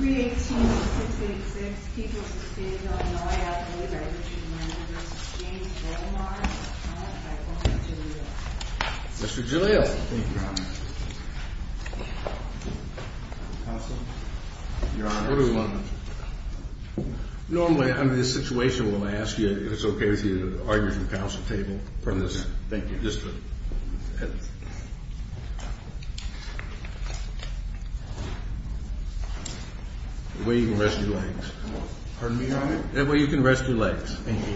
Vielen Dank. Mr Geleo Normally under this situation, we'll ask you if it's okay with you to argue the counsel table that thank you just way you can rest your legs, pardon me, your honor, that way you can rest your legs. Thank you.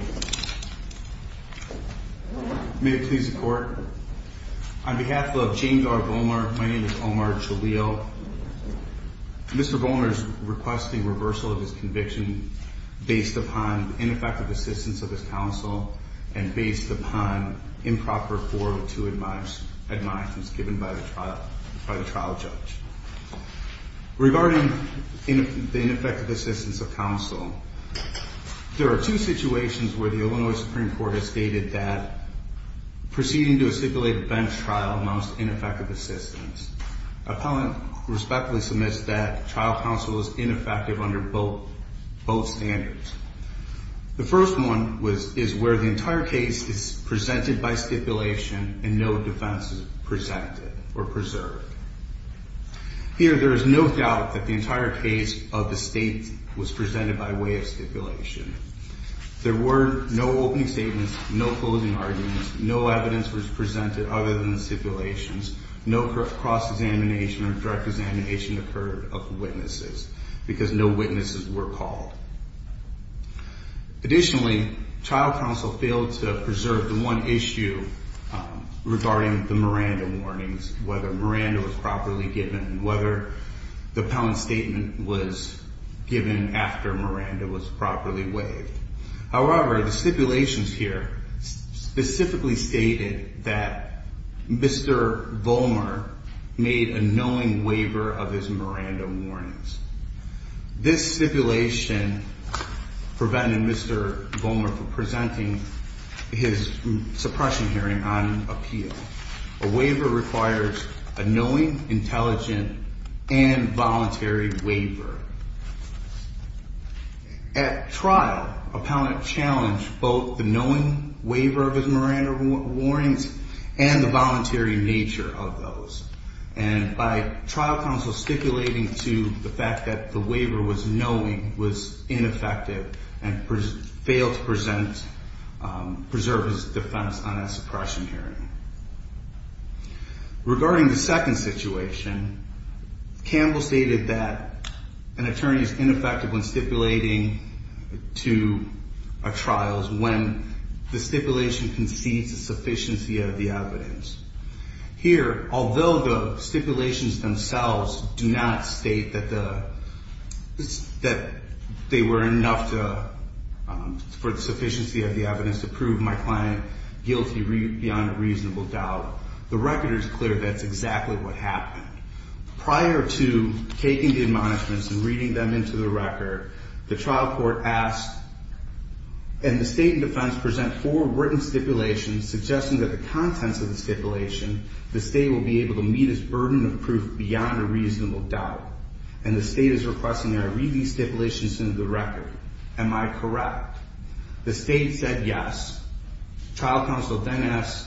May it please the court on behalf of James R. Bowmer. My name is Omar Geleo. Mr. Bowmer is requesting reversal of his conviction based upon ineffective assistance of his counsel and based upon improper 402 admonishments given by the trial judge. Regarding the ineffective assistance of counsel, there are two situations where the Illinois Supreme Court has stated that proceeding to a stipulated bench trial amounts to ineffective assistance. Appellant respectfully submits that trial counsel is ineffective under both standards. The first one is where the entire case is presented by stipulation and no defense is presented or preserved. Here, there is no doubt that the entire case of the state was presented by way of stipulation. There were no opening statements, no closing arguments, no evidence was presented other than the stipulations. No cross examination or direct examination occurred of the witnesses because no witnesses were called. Properly given whether the pound statement was given after Miranda was properly waived. However, the stipulations here specifically stated that Mr. Bowmer made a knowing waiver of his Miranda warnings. This stipulation prevented Mr. Bowmer from presenting his suppression hearing on appeal. A waiver requires a knowing, intelligent, and voluntary waiver. At trial, appellant challenged both the knowing waiver of his Miranda warnings and the voluntary nature of those. And by trial counsel stipulating to the fact that the waiver was knowing was ineffective and failed to present, preserve his defense on a suppression hearing. Regarding the second situation, Campbell stated that an attorney is ineffective when stipulating to a trial when the stipulation concedes the sufficiency of the evidence. Here, although the stipulations themselves do not state that they were enough for the trial, the record is clear that's exactly what happened. Prior to taking the admonishments and reading them into the record, the trial court asked, and the state and defense present four written stipulations suggesting that the contents of the stipulation, the state will be able to meet its burden of proof beyond a reasonable doubt. And the state is requesting that I read these stipulations into the record. Am I correct? The state said, yes. Trial counsel then asked,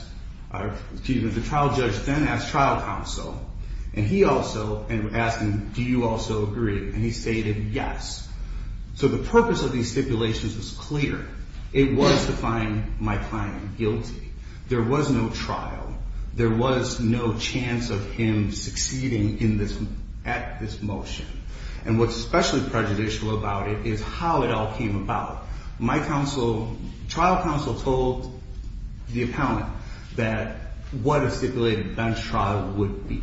excuse me, the trial judge then asked trial counsel, and he also, and asked him, do you also agree? And he stated, yes. So the purpose of these stipulations was clear. It was to find my client guilty. There was no trial. There was no chance of him succeeding at this motion. And what's especially prejudicial about it is how it all came about. My counsel, trial counsel told the appellant that what a stipulated bench trial would be.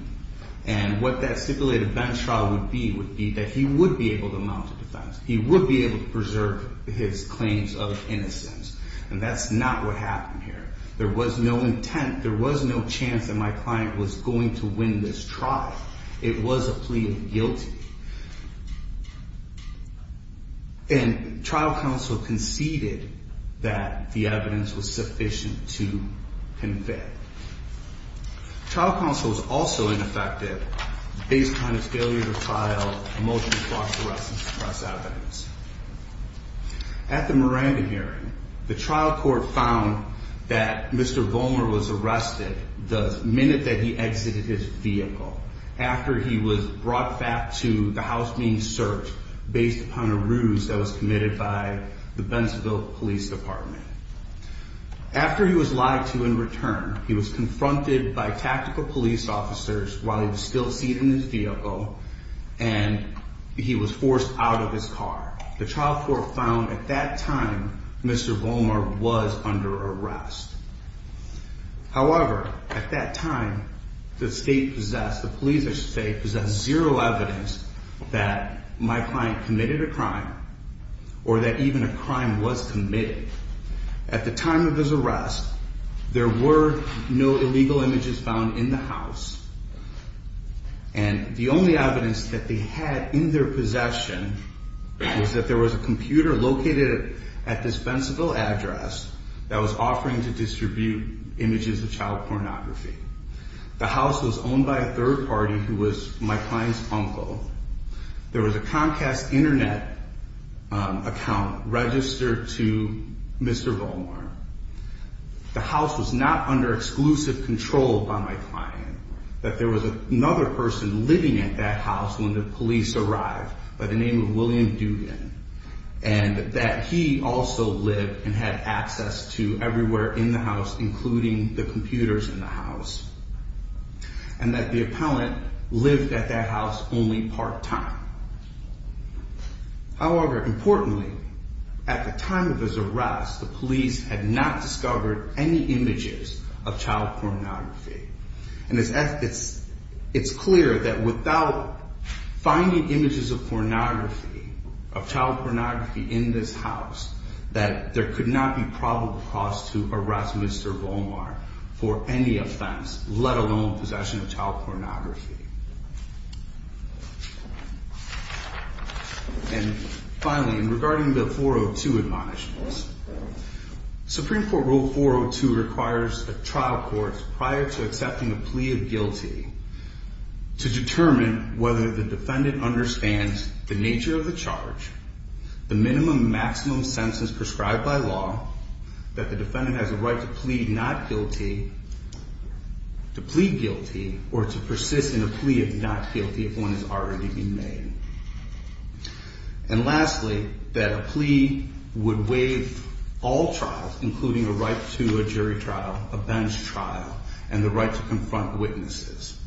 And what that stipulated bench trial would be, would be that he would be able to mount a defense. He would be able to preserve his claims of innocence. And that's not what happened here. There was no intent. There was no chance that my client was going to win this trial. It was a plea of guilt. And trial counsel conceded that the evidence was sufficient to convict. Trial counsel was also ineffective based on his failure to file a motion to cross arrest and suppress evidence. At the Miranda hearing, the trial court found that Mr. Bowmer was subject to the house being searched based upon a ruse that was committed by the Bentonville Police Department. After he was lied to in return, he was confronted by tactical police officers while he was still seated in his vehicle. And he was forced out of his car. The trial court found at that time, Mr. Bowmer was under arrest. However, at that time, the state possessed, the police or state possessed zero evidence that my client committed a crime or that even a crime was committed. At the time of his arrest, there were no illegal images found in the house. And the only evidence that they had in their possession was that there was a computer located at this Bentonville address that was offering to distribute images of child pornography. The house was owned by a third party who was my client's uncle. There was a Comcast internet account registered to Mr. Bowmer. The house was not under exclusive control by my client, that there was another person living at that house when the police arrived by the name of William Dugan. And that he also lived and had access to everywhere in the house, including the computers in the house. And that the appellant lived at that house only part time. However, importantly, at the time of his arrest, the police had not discovered any images of child pornography. And it's clear that without finding images of pornography, of child pornography in this house, that there could not be probable cause to arrest Mr. Bowmer for any offense, let alone possession of child pornography. And finally, regarding the 402 admonishments, Supreme Court rule 402 requires a trial court prior to accepting a plea of guilty to determine whether the defendant understands the nature of the charge, the minimum and maximum sentences prescribed by law, that the defendant has a right to plead not guilty, to plead guilty, or to persist in a plea not guilty. If one has already been made. And lastly, that a plea would waive all trials, including a right to a jury trial, a bench trial, and the right to confront witnesses.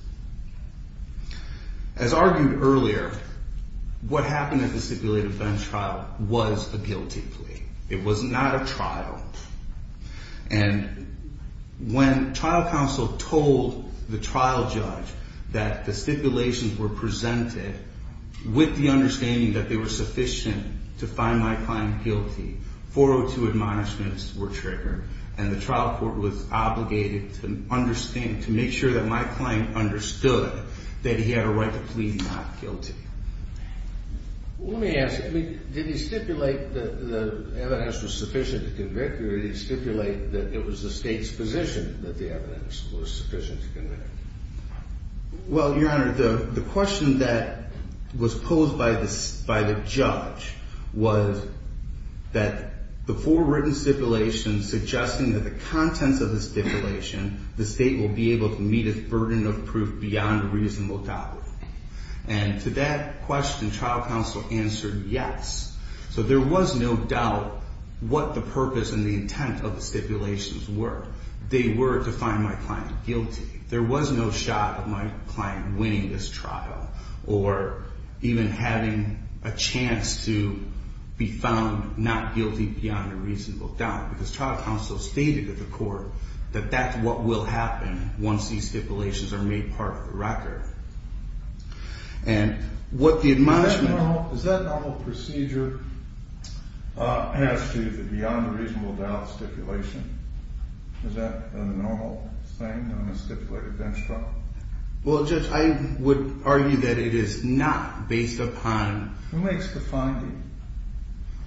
As argued earlier, what happened at the stipulated bench trial was a guilty plea. It was not a trial. And when trial counsel told the trial judge that the stipulations were presented with the understanding that they were sufficient to find my client guilty, 402 admonishments were triggered and the trial court was obligated to understand to make sure that my client understood that he had a right to plead not guilty. Let me ask you, did he stipulate that the evidence was sufficient to convict you or did he stipulate that it was the state's position that the evidence was sufficient to convict you? Well, Your Honor, the question that was posed by the judge was that the four written stipulations suggesting that the contents of the stipulation, the state will be able to meet a burden of proof beyond a reasonable doubt. And to that question, trial counsel answered yes. So there was no doubt what the purpose and the intent of the stipulations were. They were to find my client guilty. There was no shot of my client winning this trial or even having a chance to be found not guilty beyond a reasonable doubt because trial counsel stated to the court that that's what will happen once these stipulations are made part of the record. And what the admonishment, is that normal procedure has to the beyond a reasonable doubt stipulation? Is that a normal thing on a stipulated bench trial? Well, Judge, I would argue that it is not based upon who makes the finding.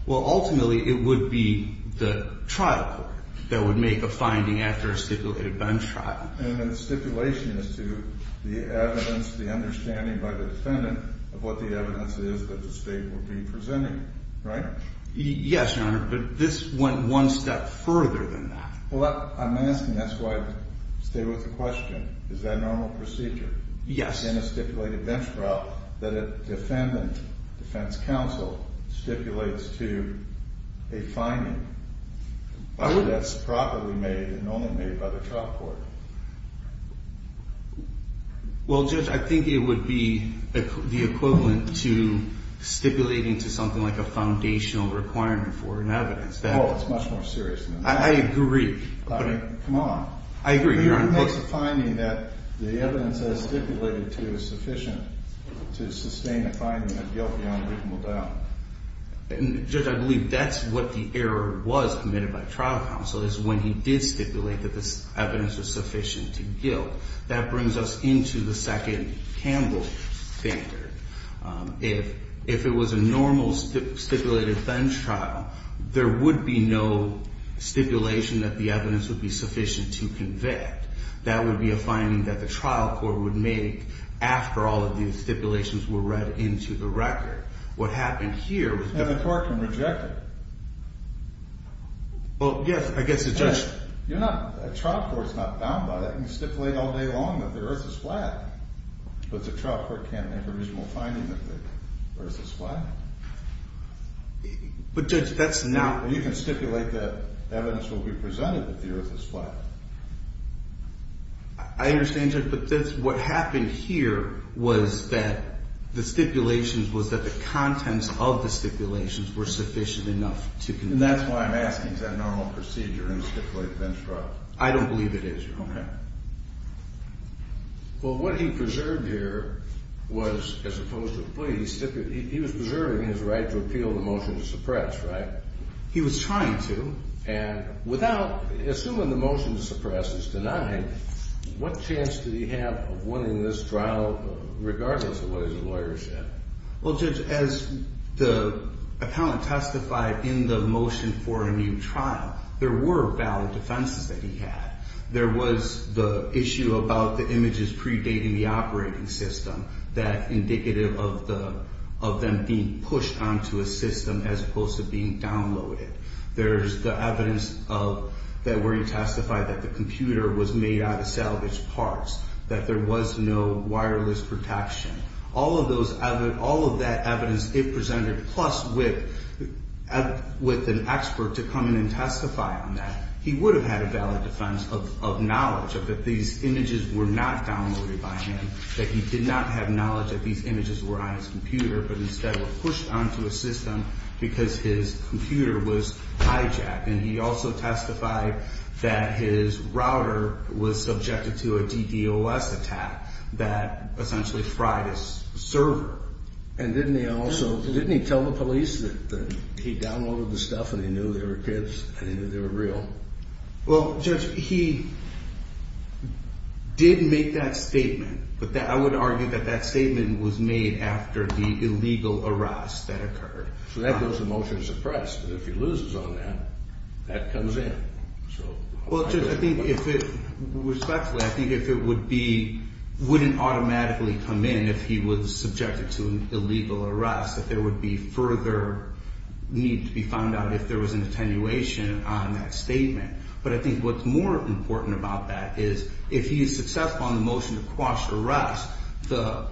Well, ultimately, it would be the trial court that would make a finding after a stipulated bench trial. And the stipulation is to the evidence, the understanding by the defendant of what the evidence is that the state will be presenting, right? Yes, Your Honor. But this went one step further than that. Well, I'm asking. That's why I stay with the question. Is that normal procedure? Yes. In a stipulated bench trial that a defendant defense counsel stipulates to a finding that's properly made and only made by the trial court. Well, Judge, I think it would be the equivalent to stipulating to something like a foundational requirement for an evidence. Oh, it's much more serious than that. I agree. Come on. I agree, Your Honor. Who makes a finding that the evidence that is stipulated to is sufficient to sustain a finding of guilt beyond a reasonable doubt? And, Judge, I believe that's what the error was committed by trial counsel is when he did stipulate that this evidence was sufficient to guilt. That brings us into the second Campbell standard. If it was a normal stipulated bench trial, there would be no stipulation that the evidence would be sufficient to convict. That would be a finding that the trial court would make after all of these stipulations were read into the record. What happened here was that the court can reject it. Well, yes, I guess it does. You're not a trial court is not bound by that and stipulate all day long that the earth is flat, but the trial court can't make a reasonable finding that the earth is flat. But, Judge, that's not. You can stipulate that evidence will be presented that the earth is flat. I understand, Judge, but that's what happened here was that the stipulations was that the contents of the stipulations were sufficient enough to convict. And that's why I'm asking, is that normal procedure in stipulated bench trials? I don't believe it is, Your Honor. Okay. Well, what he preserved here was, as opposed to the plea, he was preserving his right to appeal the motion to suppress, right? He was trying to, and without, assuming the motion to suppress is denied, what chance did he have of winning this trial, regardless of what his lawyers said? Well, Judge, as the appellant testified in the motion for a new trial, there were valid defenses that he had. There was the issue about the images predating the operating system, that indicative of them being pushed onto a system as opposed to being downloaded. There's the evidence that where he testified that the computer was made out of salvaged parts, that there was no wireless protection. All of that evidence it presented, plus with an expert to come in and testify on that, he would have had a valid defense. Of knowledge, of that these images were not downloaded by him, that he did not have knowledge that these images were on his computer, but instead were pushed onto a system because his computer was hijacked. And he also testified that his router was subjected to a DDOS attack that essentially fried his server. And didn't he also, didn't he tell the police that he downloaded the stuff and he knew they were kids and he knew they were real? Well, Judge, he did make that statement, but I would argue that that statement was made after the illegal arrest that occurred. So that goes to motion to suppress, but if he loses on that, that comes in. So, well, Judge, I think if it, respectfully, I think if it would be, wouldn't automatically come in if he was subjected to an illegal arrest, that there would be further need to be found out if there was an attenuation on that statement. But I think what's more important about that is if he is successful in the motion to quash the arrest, the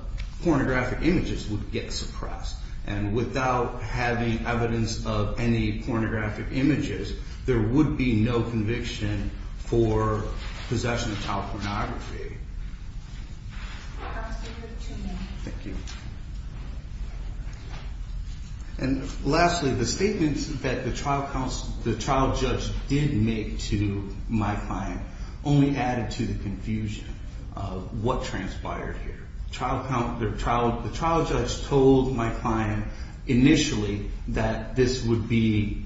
pornographic images would get suppressed. And without having evidence of any pornographic images, there would be no conviction for possession of child pornography. Thank you. And lastly, the statements that the trial counsel, the trial judge did make to my client only added to the confusion of what transpired here. Trial, the trial, the trial judge told my client initially that this would be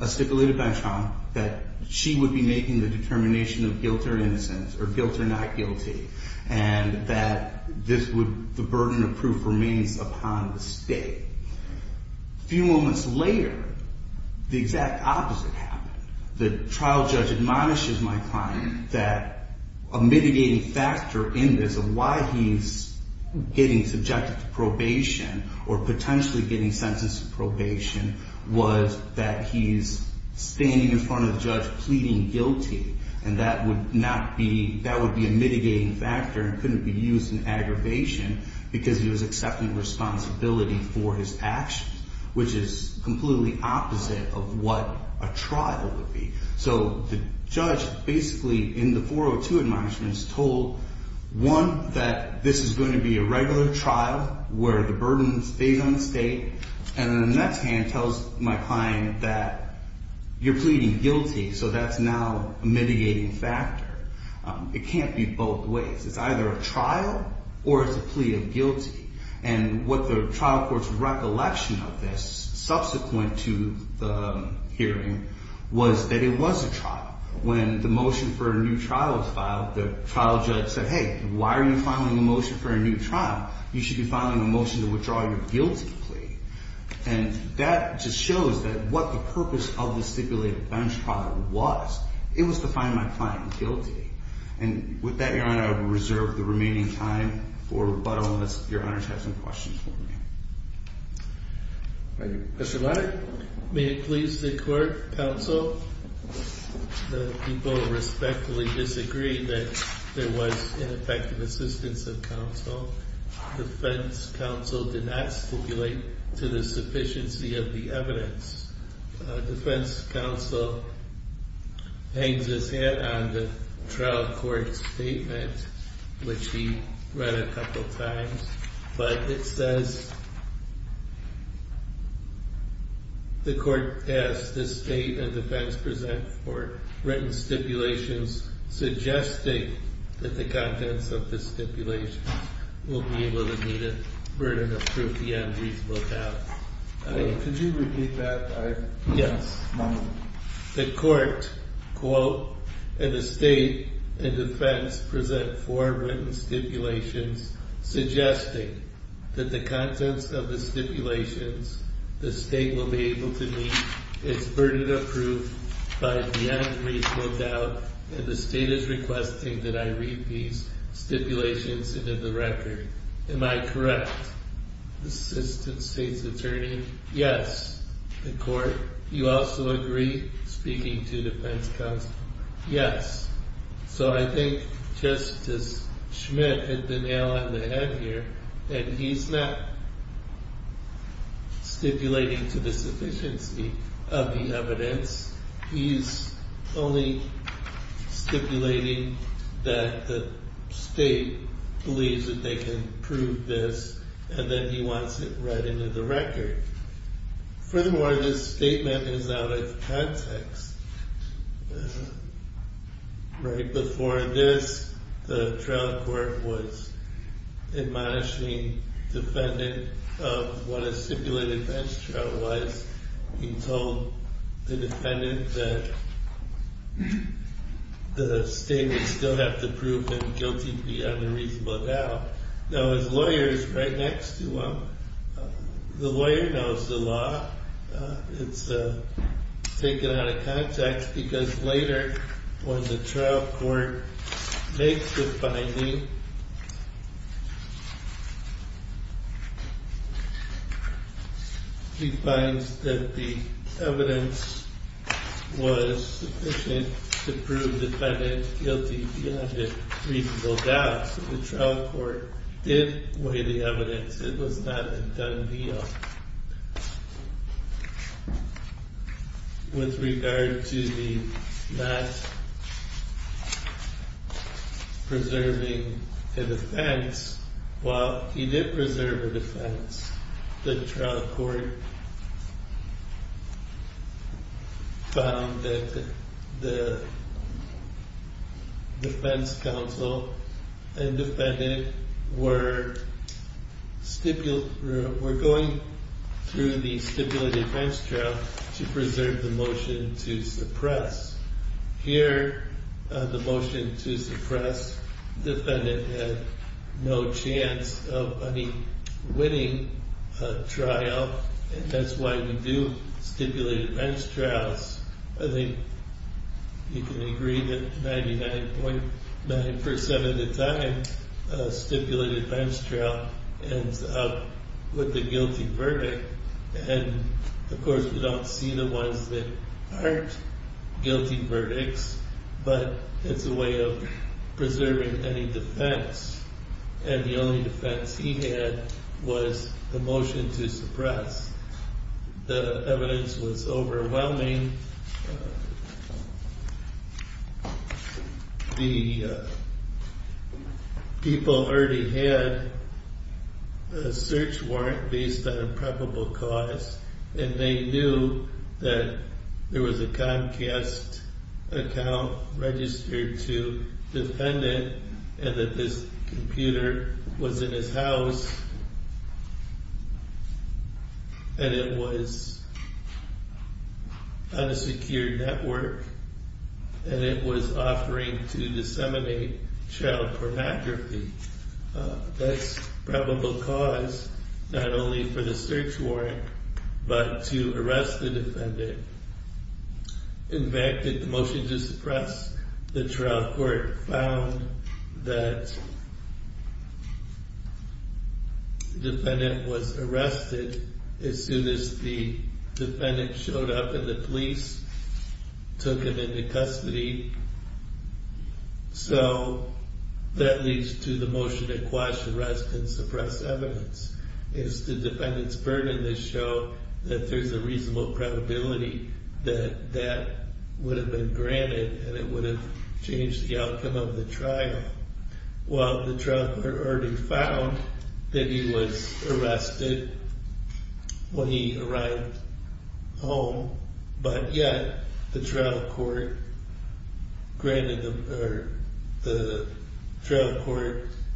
a stipulated bench trial, that she would be making the determination of guilt or innocence or guilt or not guilty. And that this would, the burden of proof remains upon the state. Few moments later, the exact opposite happened. The trial judge admonishes my client that a mitigating factor in this of why he's getting subjected to probation or potentially getting sentenced to probation was that he's standing in front of the judge pleading guilty. And that would not be, that would be a mitigating factor and couldn't be used in aggravation because he was accepting responsibility for his actions, which is completely opposite of what a trial would be. So the judge basically in the 402 admonishments told, one, that this is going to be a regular trial where the burden stays on the state. And then the next hand tells my client that you're pleading guilty. So that's now a mitigating factor. It can't be both ways. It's either a trial or it's a plea of guilty. And what the trial court's recollection of this subsequent to the hearing was that it was a trial. When the motion for a new trial was filed, the trial judge said, hey, why are you filing a motion for a new trial? You should be filing a motion to withdraw your guilty plea. And that just shows that what the purpose of the stipulated bench trial was. It was to find my client guilty. And with that, Your Honor, I will reserve the remaining time for rebuttal unless Your Honor has some questions for me. Mr. Leiter, may it please the court, counsel, the people respectfully disagree that there was ineffective assistance of counsel. The defense counsel did not stipulate to the sufficiency of the evidence. Defense counsel hangs his head on the trial court statement, which he read a couple of times. But it says. The court asked the state and defense present for written stipulations suggesting that the contents of the stipulation. Will be able to meet a burden of proof. The unreasonable doubt. Could you repeat that? Yes. The court quote, and the state and defense present for written stipulations suggesting that the contents of the stipulations the state will be able to meet its burden of proof by the unreasonable doubt. And the state is requesting that I read these stipulations into the record. Am I correct? Assistant state's attorney? Yes. The court, you also agree? Speaking to defense counsel. Yes. So I think Justice Schmidt hit the nail on the head here. And he's not stipulating to the sufficiency of the evidence. He's only stipulating that the state believes that they can prove this, and then he wants it read into the record. Furthermore, this statement is out of context. Right before this, the trial court was admonishing defendant of what a stipulated bench trial was. He told the defendant that the state would still have to prove him guilty beyond a reasonable doubt. Now, his lawyer is right next to him. The lawyer knows the law. It's taken out of context because later when the trial court makes the finding. He finds that the evidence was sufficient to prove the defendant guilty beyond a reasonable doubt. So the trial court did weigh the evidence. It was not a done deal. With regard to the not preserving a defense. While he did preserve a defense, the trial court found that the defense counsel and the defendant had no chance of winning a trial. And that's why we do stipulated bench trials. I think you can agree that 99.9% of the time, a stipulated bench trial ends up with a guilty verdict. And of course, we don't see the ones that aren't guilty verdicts, but it's a way of preserving any defense. And the only defense he had was the motion to suppress. The evidence was overwhelming. The people already had a search warrant based on a probable cause. And they knew that there was a Comcast account registered to the defendant. And that this computer was in his house. And it was on a secure network. And it was offering to disseminate child pornography. That's probable cause, not only for the search warrant, but to arrest the defendant. In fact, in the motion to suppress, the trial court found that the defendant was arrested as soon as the defendant showed up and the police took him into custody. So that leads to the motion to quash, arrest, and suppress evidence. It's the defendant's burden that showed that there's a reasonable probability that that would have been granted and it would have changed the outcome of the trial. Well, the trial court already found that he was arrested when he arrived home. But yet, the trial court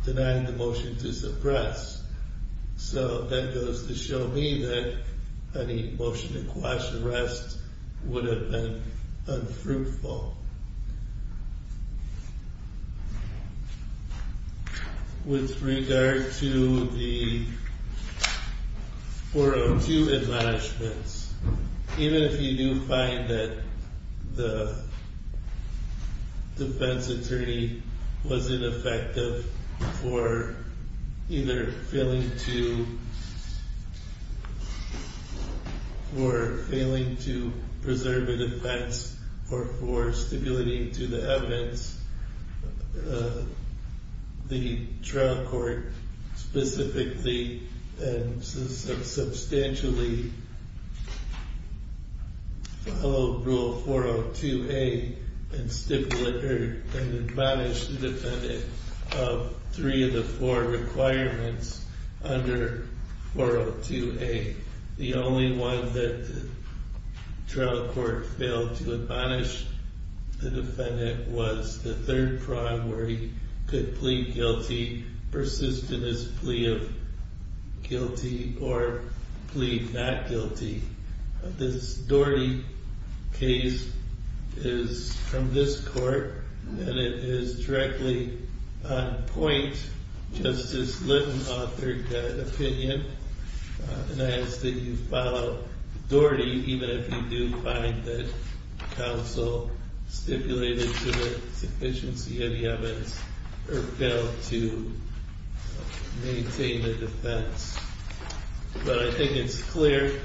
denying the motion to suppress. So that goes to show me that any motion to quash arrest would have been unfruitful. With regard to the 402 admonishments. Even if you do find that the defense attorney was ineffective for either failing to preserve a defense. Or for stipulating to the evidence, the trial court specifically and substantially follow rule 402A and admonish the defendant of three of the four requirements under 402A. The only one that the trial court failed to admonish the defendant was the third prime where he could plead guilty, persist in his plea of guilty, or plead not guilty. This Doherty case is from this court, and it is directly on point, Justice Litton authored that opinion. And I ask that you follow Doherty, even if you do find that counsel stipulated to the sufficiency of the evidence, or failed to maintain a defense. But I think it's clear,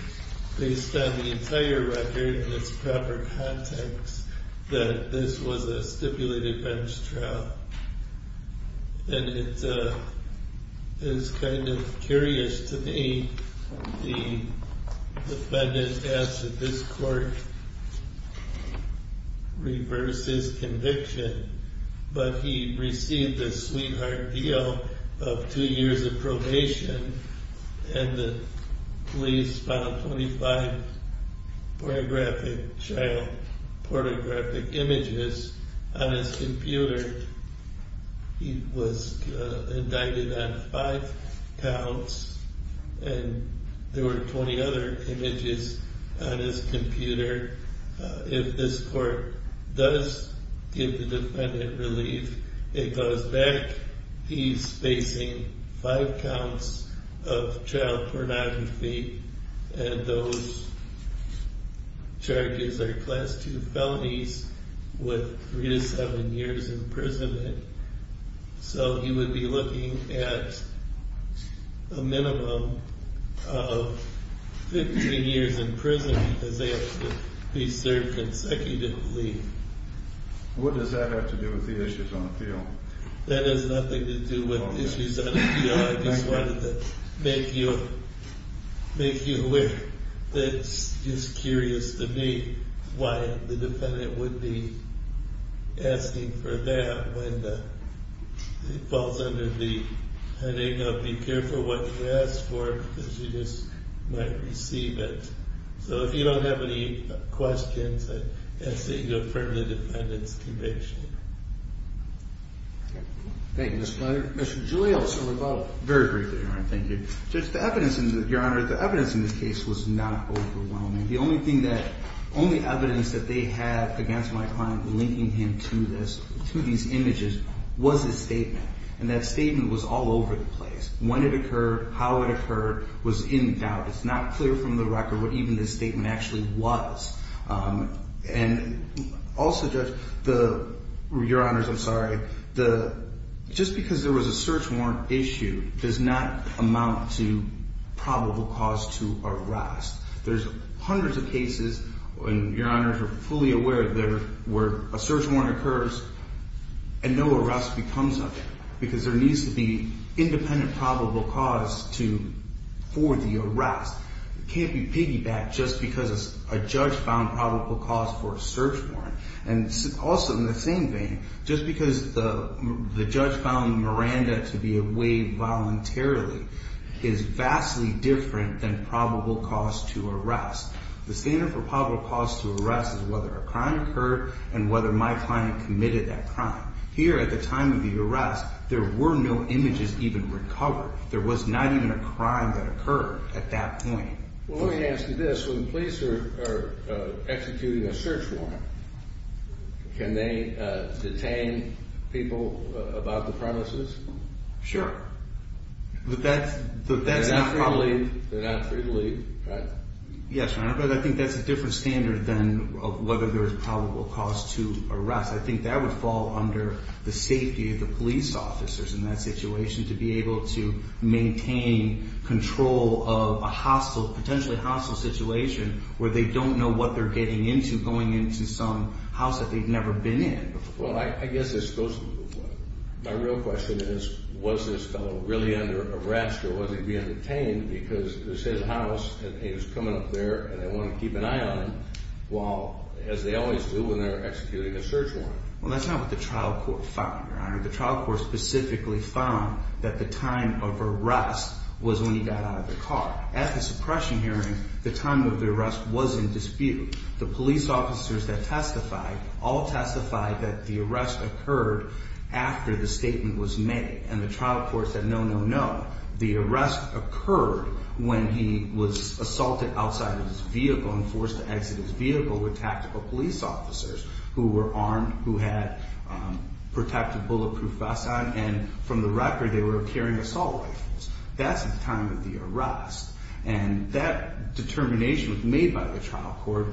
based on the entire record and its proper context, that this was a stipulated bench trial. And it is kind of curious to me, the defendant asked that this court reverse his conviction, but he received a sweetheart deal of two years of probation. And the police found 25 pornographic, child pornographic images on his computer. He was indicted on five counts, and there were 20 other images on his computer. If this court does give the defendant relief, it goes back. He's facing five counts of child pornography, and those charges are class two felonies with three to seven years in prison. So he would be looking at a minimum of 15 years in prison, because they have to be served consecutively. What does that have to do with the issues on appeal? I just wanted to make you aware that it's just curious to me why the defendant would be asking for that when it falls under the heading of, be careful what you ask for, because you just might receive it. So if you don't have any questions, I'd ask that you affirm the defendant's conviction. Thank you, Mr. Fletcher. Mr. Julio, some rebuttal. Very briefly, Your Honor. Thank you. Just the evidence, Your Honor, the evidence in this case was not overwhelming. The only evidence that they had against my client linking him to this, to these images, was his statement. And that statement was all over the place. When it occurred, how it occurred, was in doubt. It's not clear from the record what even this statement actually was. And also, Judge, Your Honors, I'm sorry. Just because there was a search warrant issue does not amount to probable cause to arrest. There's hundreds of cases, and Your Honors are fully aware, where a search warrant occurs and no arrest becomes of it. Because there needs to be independent probable cause for the arrest. Can't be piggybacked just because a judge found probable cause for a search warrant. And also, in the same vein, just because the judge found Miranda to be away voluntarily is vastly different than probable cause to arrest. The standard for probable cause to arrest is whether a crime occurred and whether my client committed that crime. Here, at the time of the arrest, there were no images even recovered. There was not even a crime that occurred at that point. Well, let me ask you this. When the police are executing a search warrant, can they detain people about the premises? Sure. But that's not probably- They're not free to leave, right? Yes, Your Honor, but I think that's a different standard than whether there's probable cause to arrest. I think that would fall under the safety of the police officers in that situation, to be able to maintain control of a potentially hostile situation, where they don't know what they're getting into, going into some house that they've never been in. Well, I guess my real question is, was this fellow really under arrest, or was he being detained? Because this is his house, and he was coming up there, and they want to keep an eye on him, while, as they always do when they're executing a search warrant. Well, that's not what the trial court found, Your Honor. The trial court specifically found that the time of arrest was when he got out of the car. At the suppression hearing, the time of the arrest was in dispute. The police officers that testified, all testified that the arrest occurred after the statement was made. And the trial court said, no, no, no. The arrest occurred when he was assaulted outside of his vehicle and forced to exit his vehicle with tactical police officers who were armed, who had protective bulletproof vests on. And from the record, they were carrying assault rifles. That's at the time of the arrest. And that determination was made by the trial court,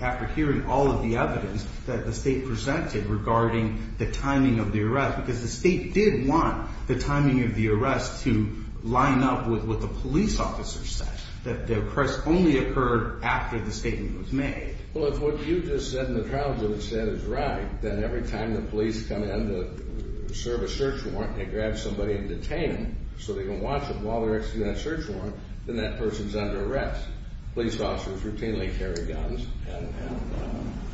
after hearing all of the evidence that the state presented regarding the timing of the arrest, because the state did want the timing of the arrest to line up with what the police officer said, that the arrest only occurred after the statement was made. Well, if what you just said in the trial court said is right, then every time the police come in to serve a search warrant, they grab somebody and detain them so they can watch them while they're executing that search warrant, then that person's under arrest. Police officers routinely carry guns.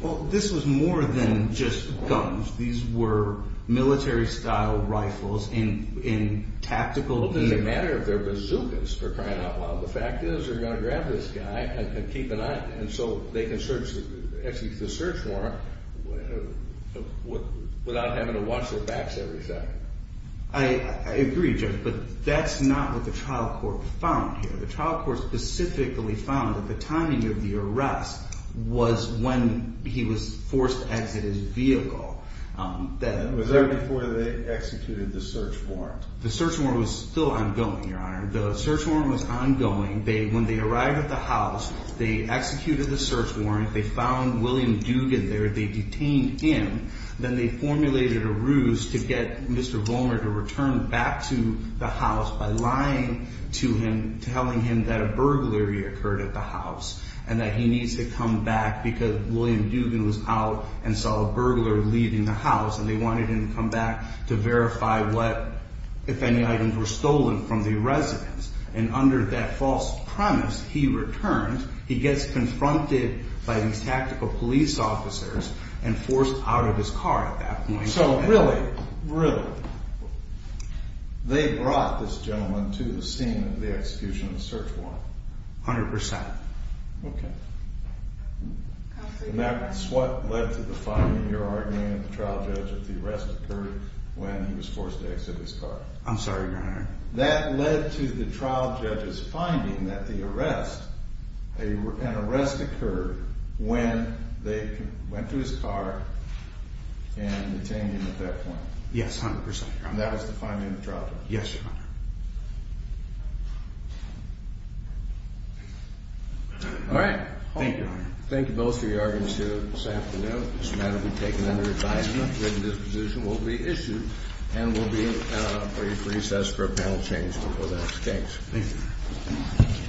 Well, this was more than just guns. These were military-style rifles in tactical gear. Well, it doesn't matter if they're bazookas, for crying out loud. The fact is, they're gonna grab this guy and keep an eye on him. And so they can execute the search warrant without having to watch their backs every second. I agree, Judge, but that's not what the trial court found here. The trial court specifically found that the timing of the arrest was when he was forced to exit his vehicle. That- Was that before they executed the search warrant? The search warrant was still ongoing, Your Honor. The search warrant was ongoing. When they arrived at the house, they executed the search warrant. They found William Dugan there. They detained him. Then they formulated a ruse to get Mr. Volmer to return back to the house by lying to him, telling him that a burglary occurred at the house and that he needs to come back because William Dugan was out and saw a burglar leaving the house. And they wanted him to come back to verify what, if any, items were stolen from the residence. And under that false premise, he returns. He gets confronted by these tactical police officers and forced out of his car at that point. So really, really, they brought this gentleman to the scene of the execution of the search warrant? 100%. Okay. And that's what led to the five-year argument at the trial judge that I'm sorry, Your Honor. That led to the trial judge's finding that the arrest, an arrest occurred when they went to his car and detained him at that point. Yes, 100%. And that was the finding of the trial judge? Yes, Your Honor. All right. Thank you, Your Honor. Thank you both for your arguments here this afternoon. This matter will be taken under advisement. And this position will be issued and will be a recess for a panel change before the next case. Thank you.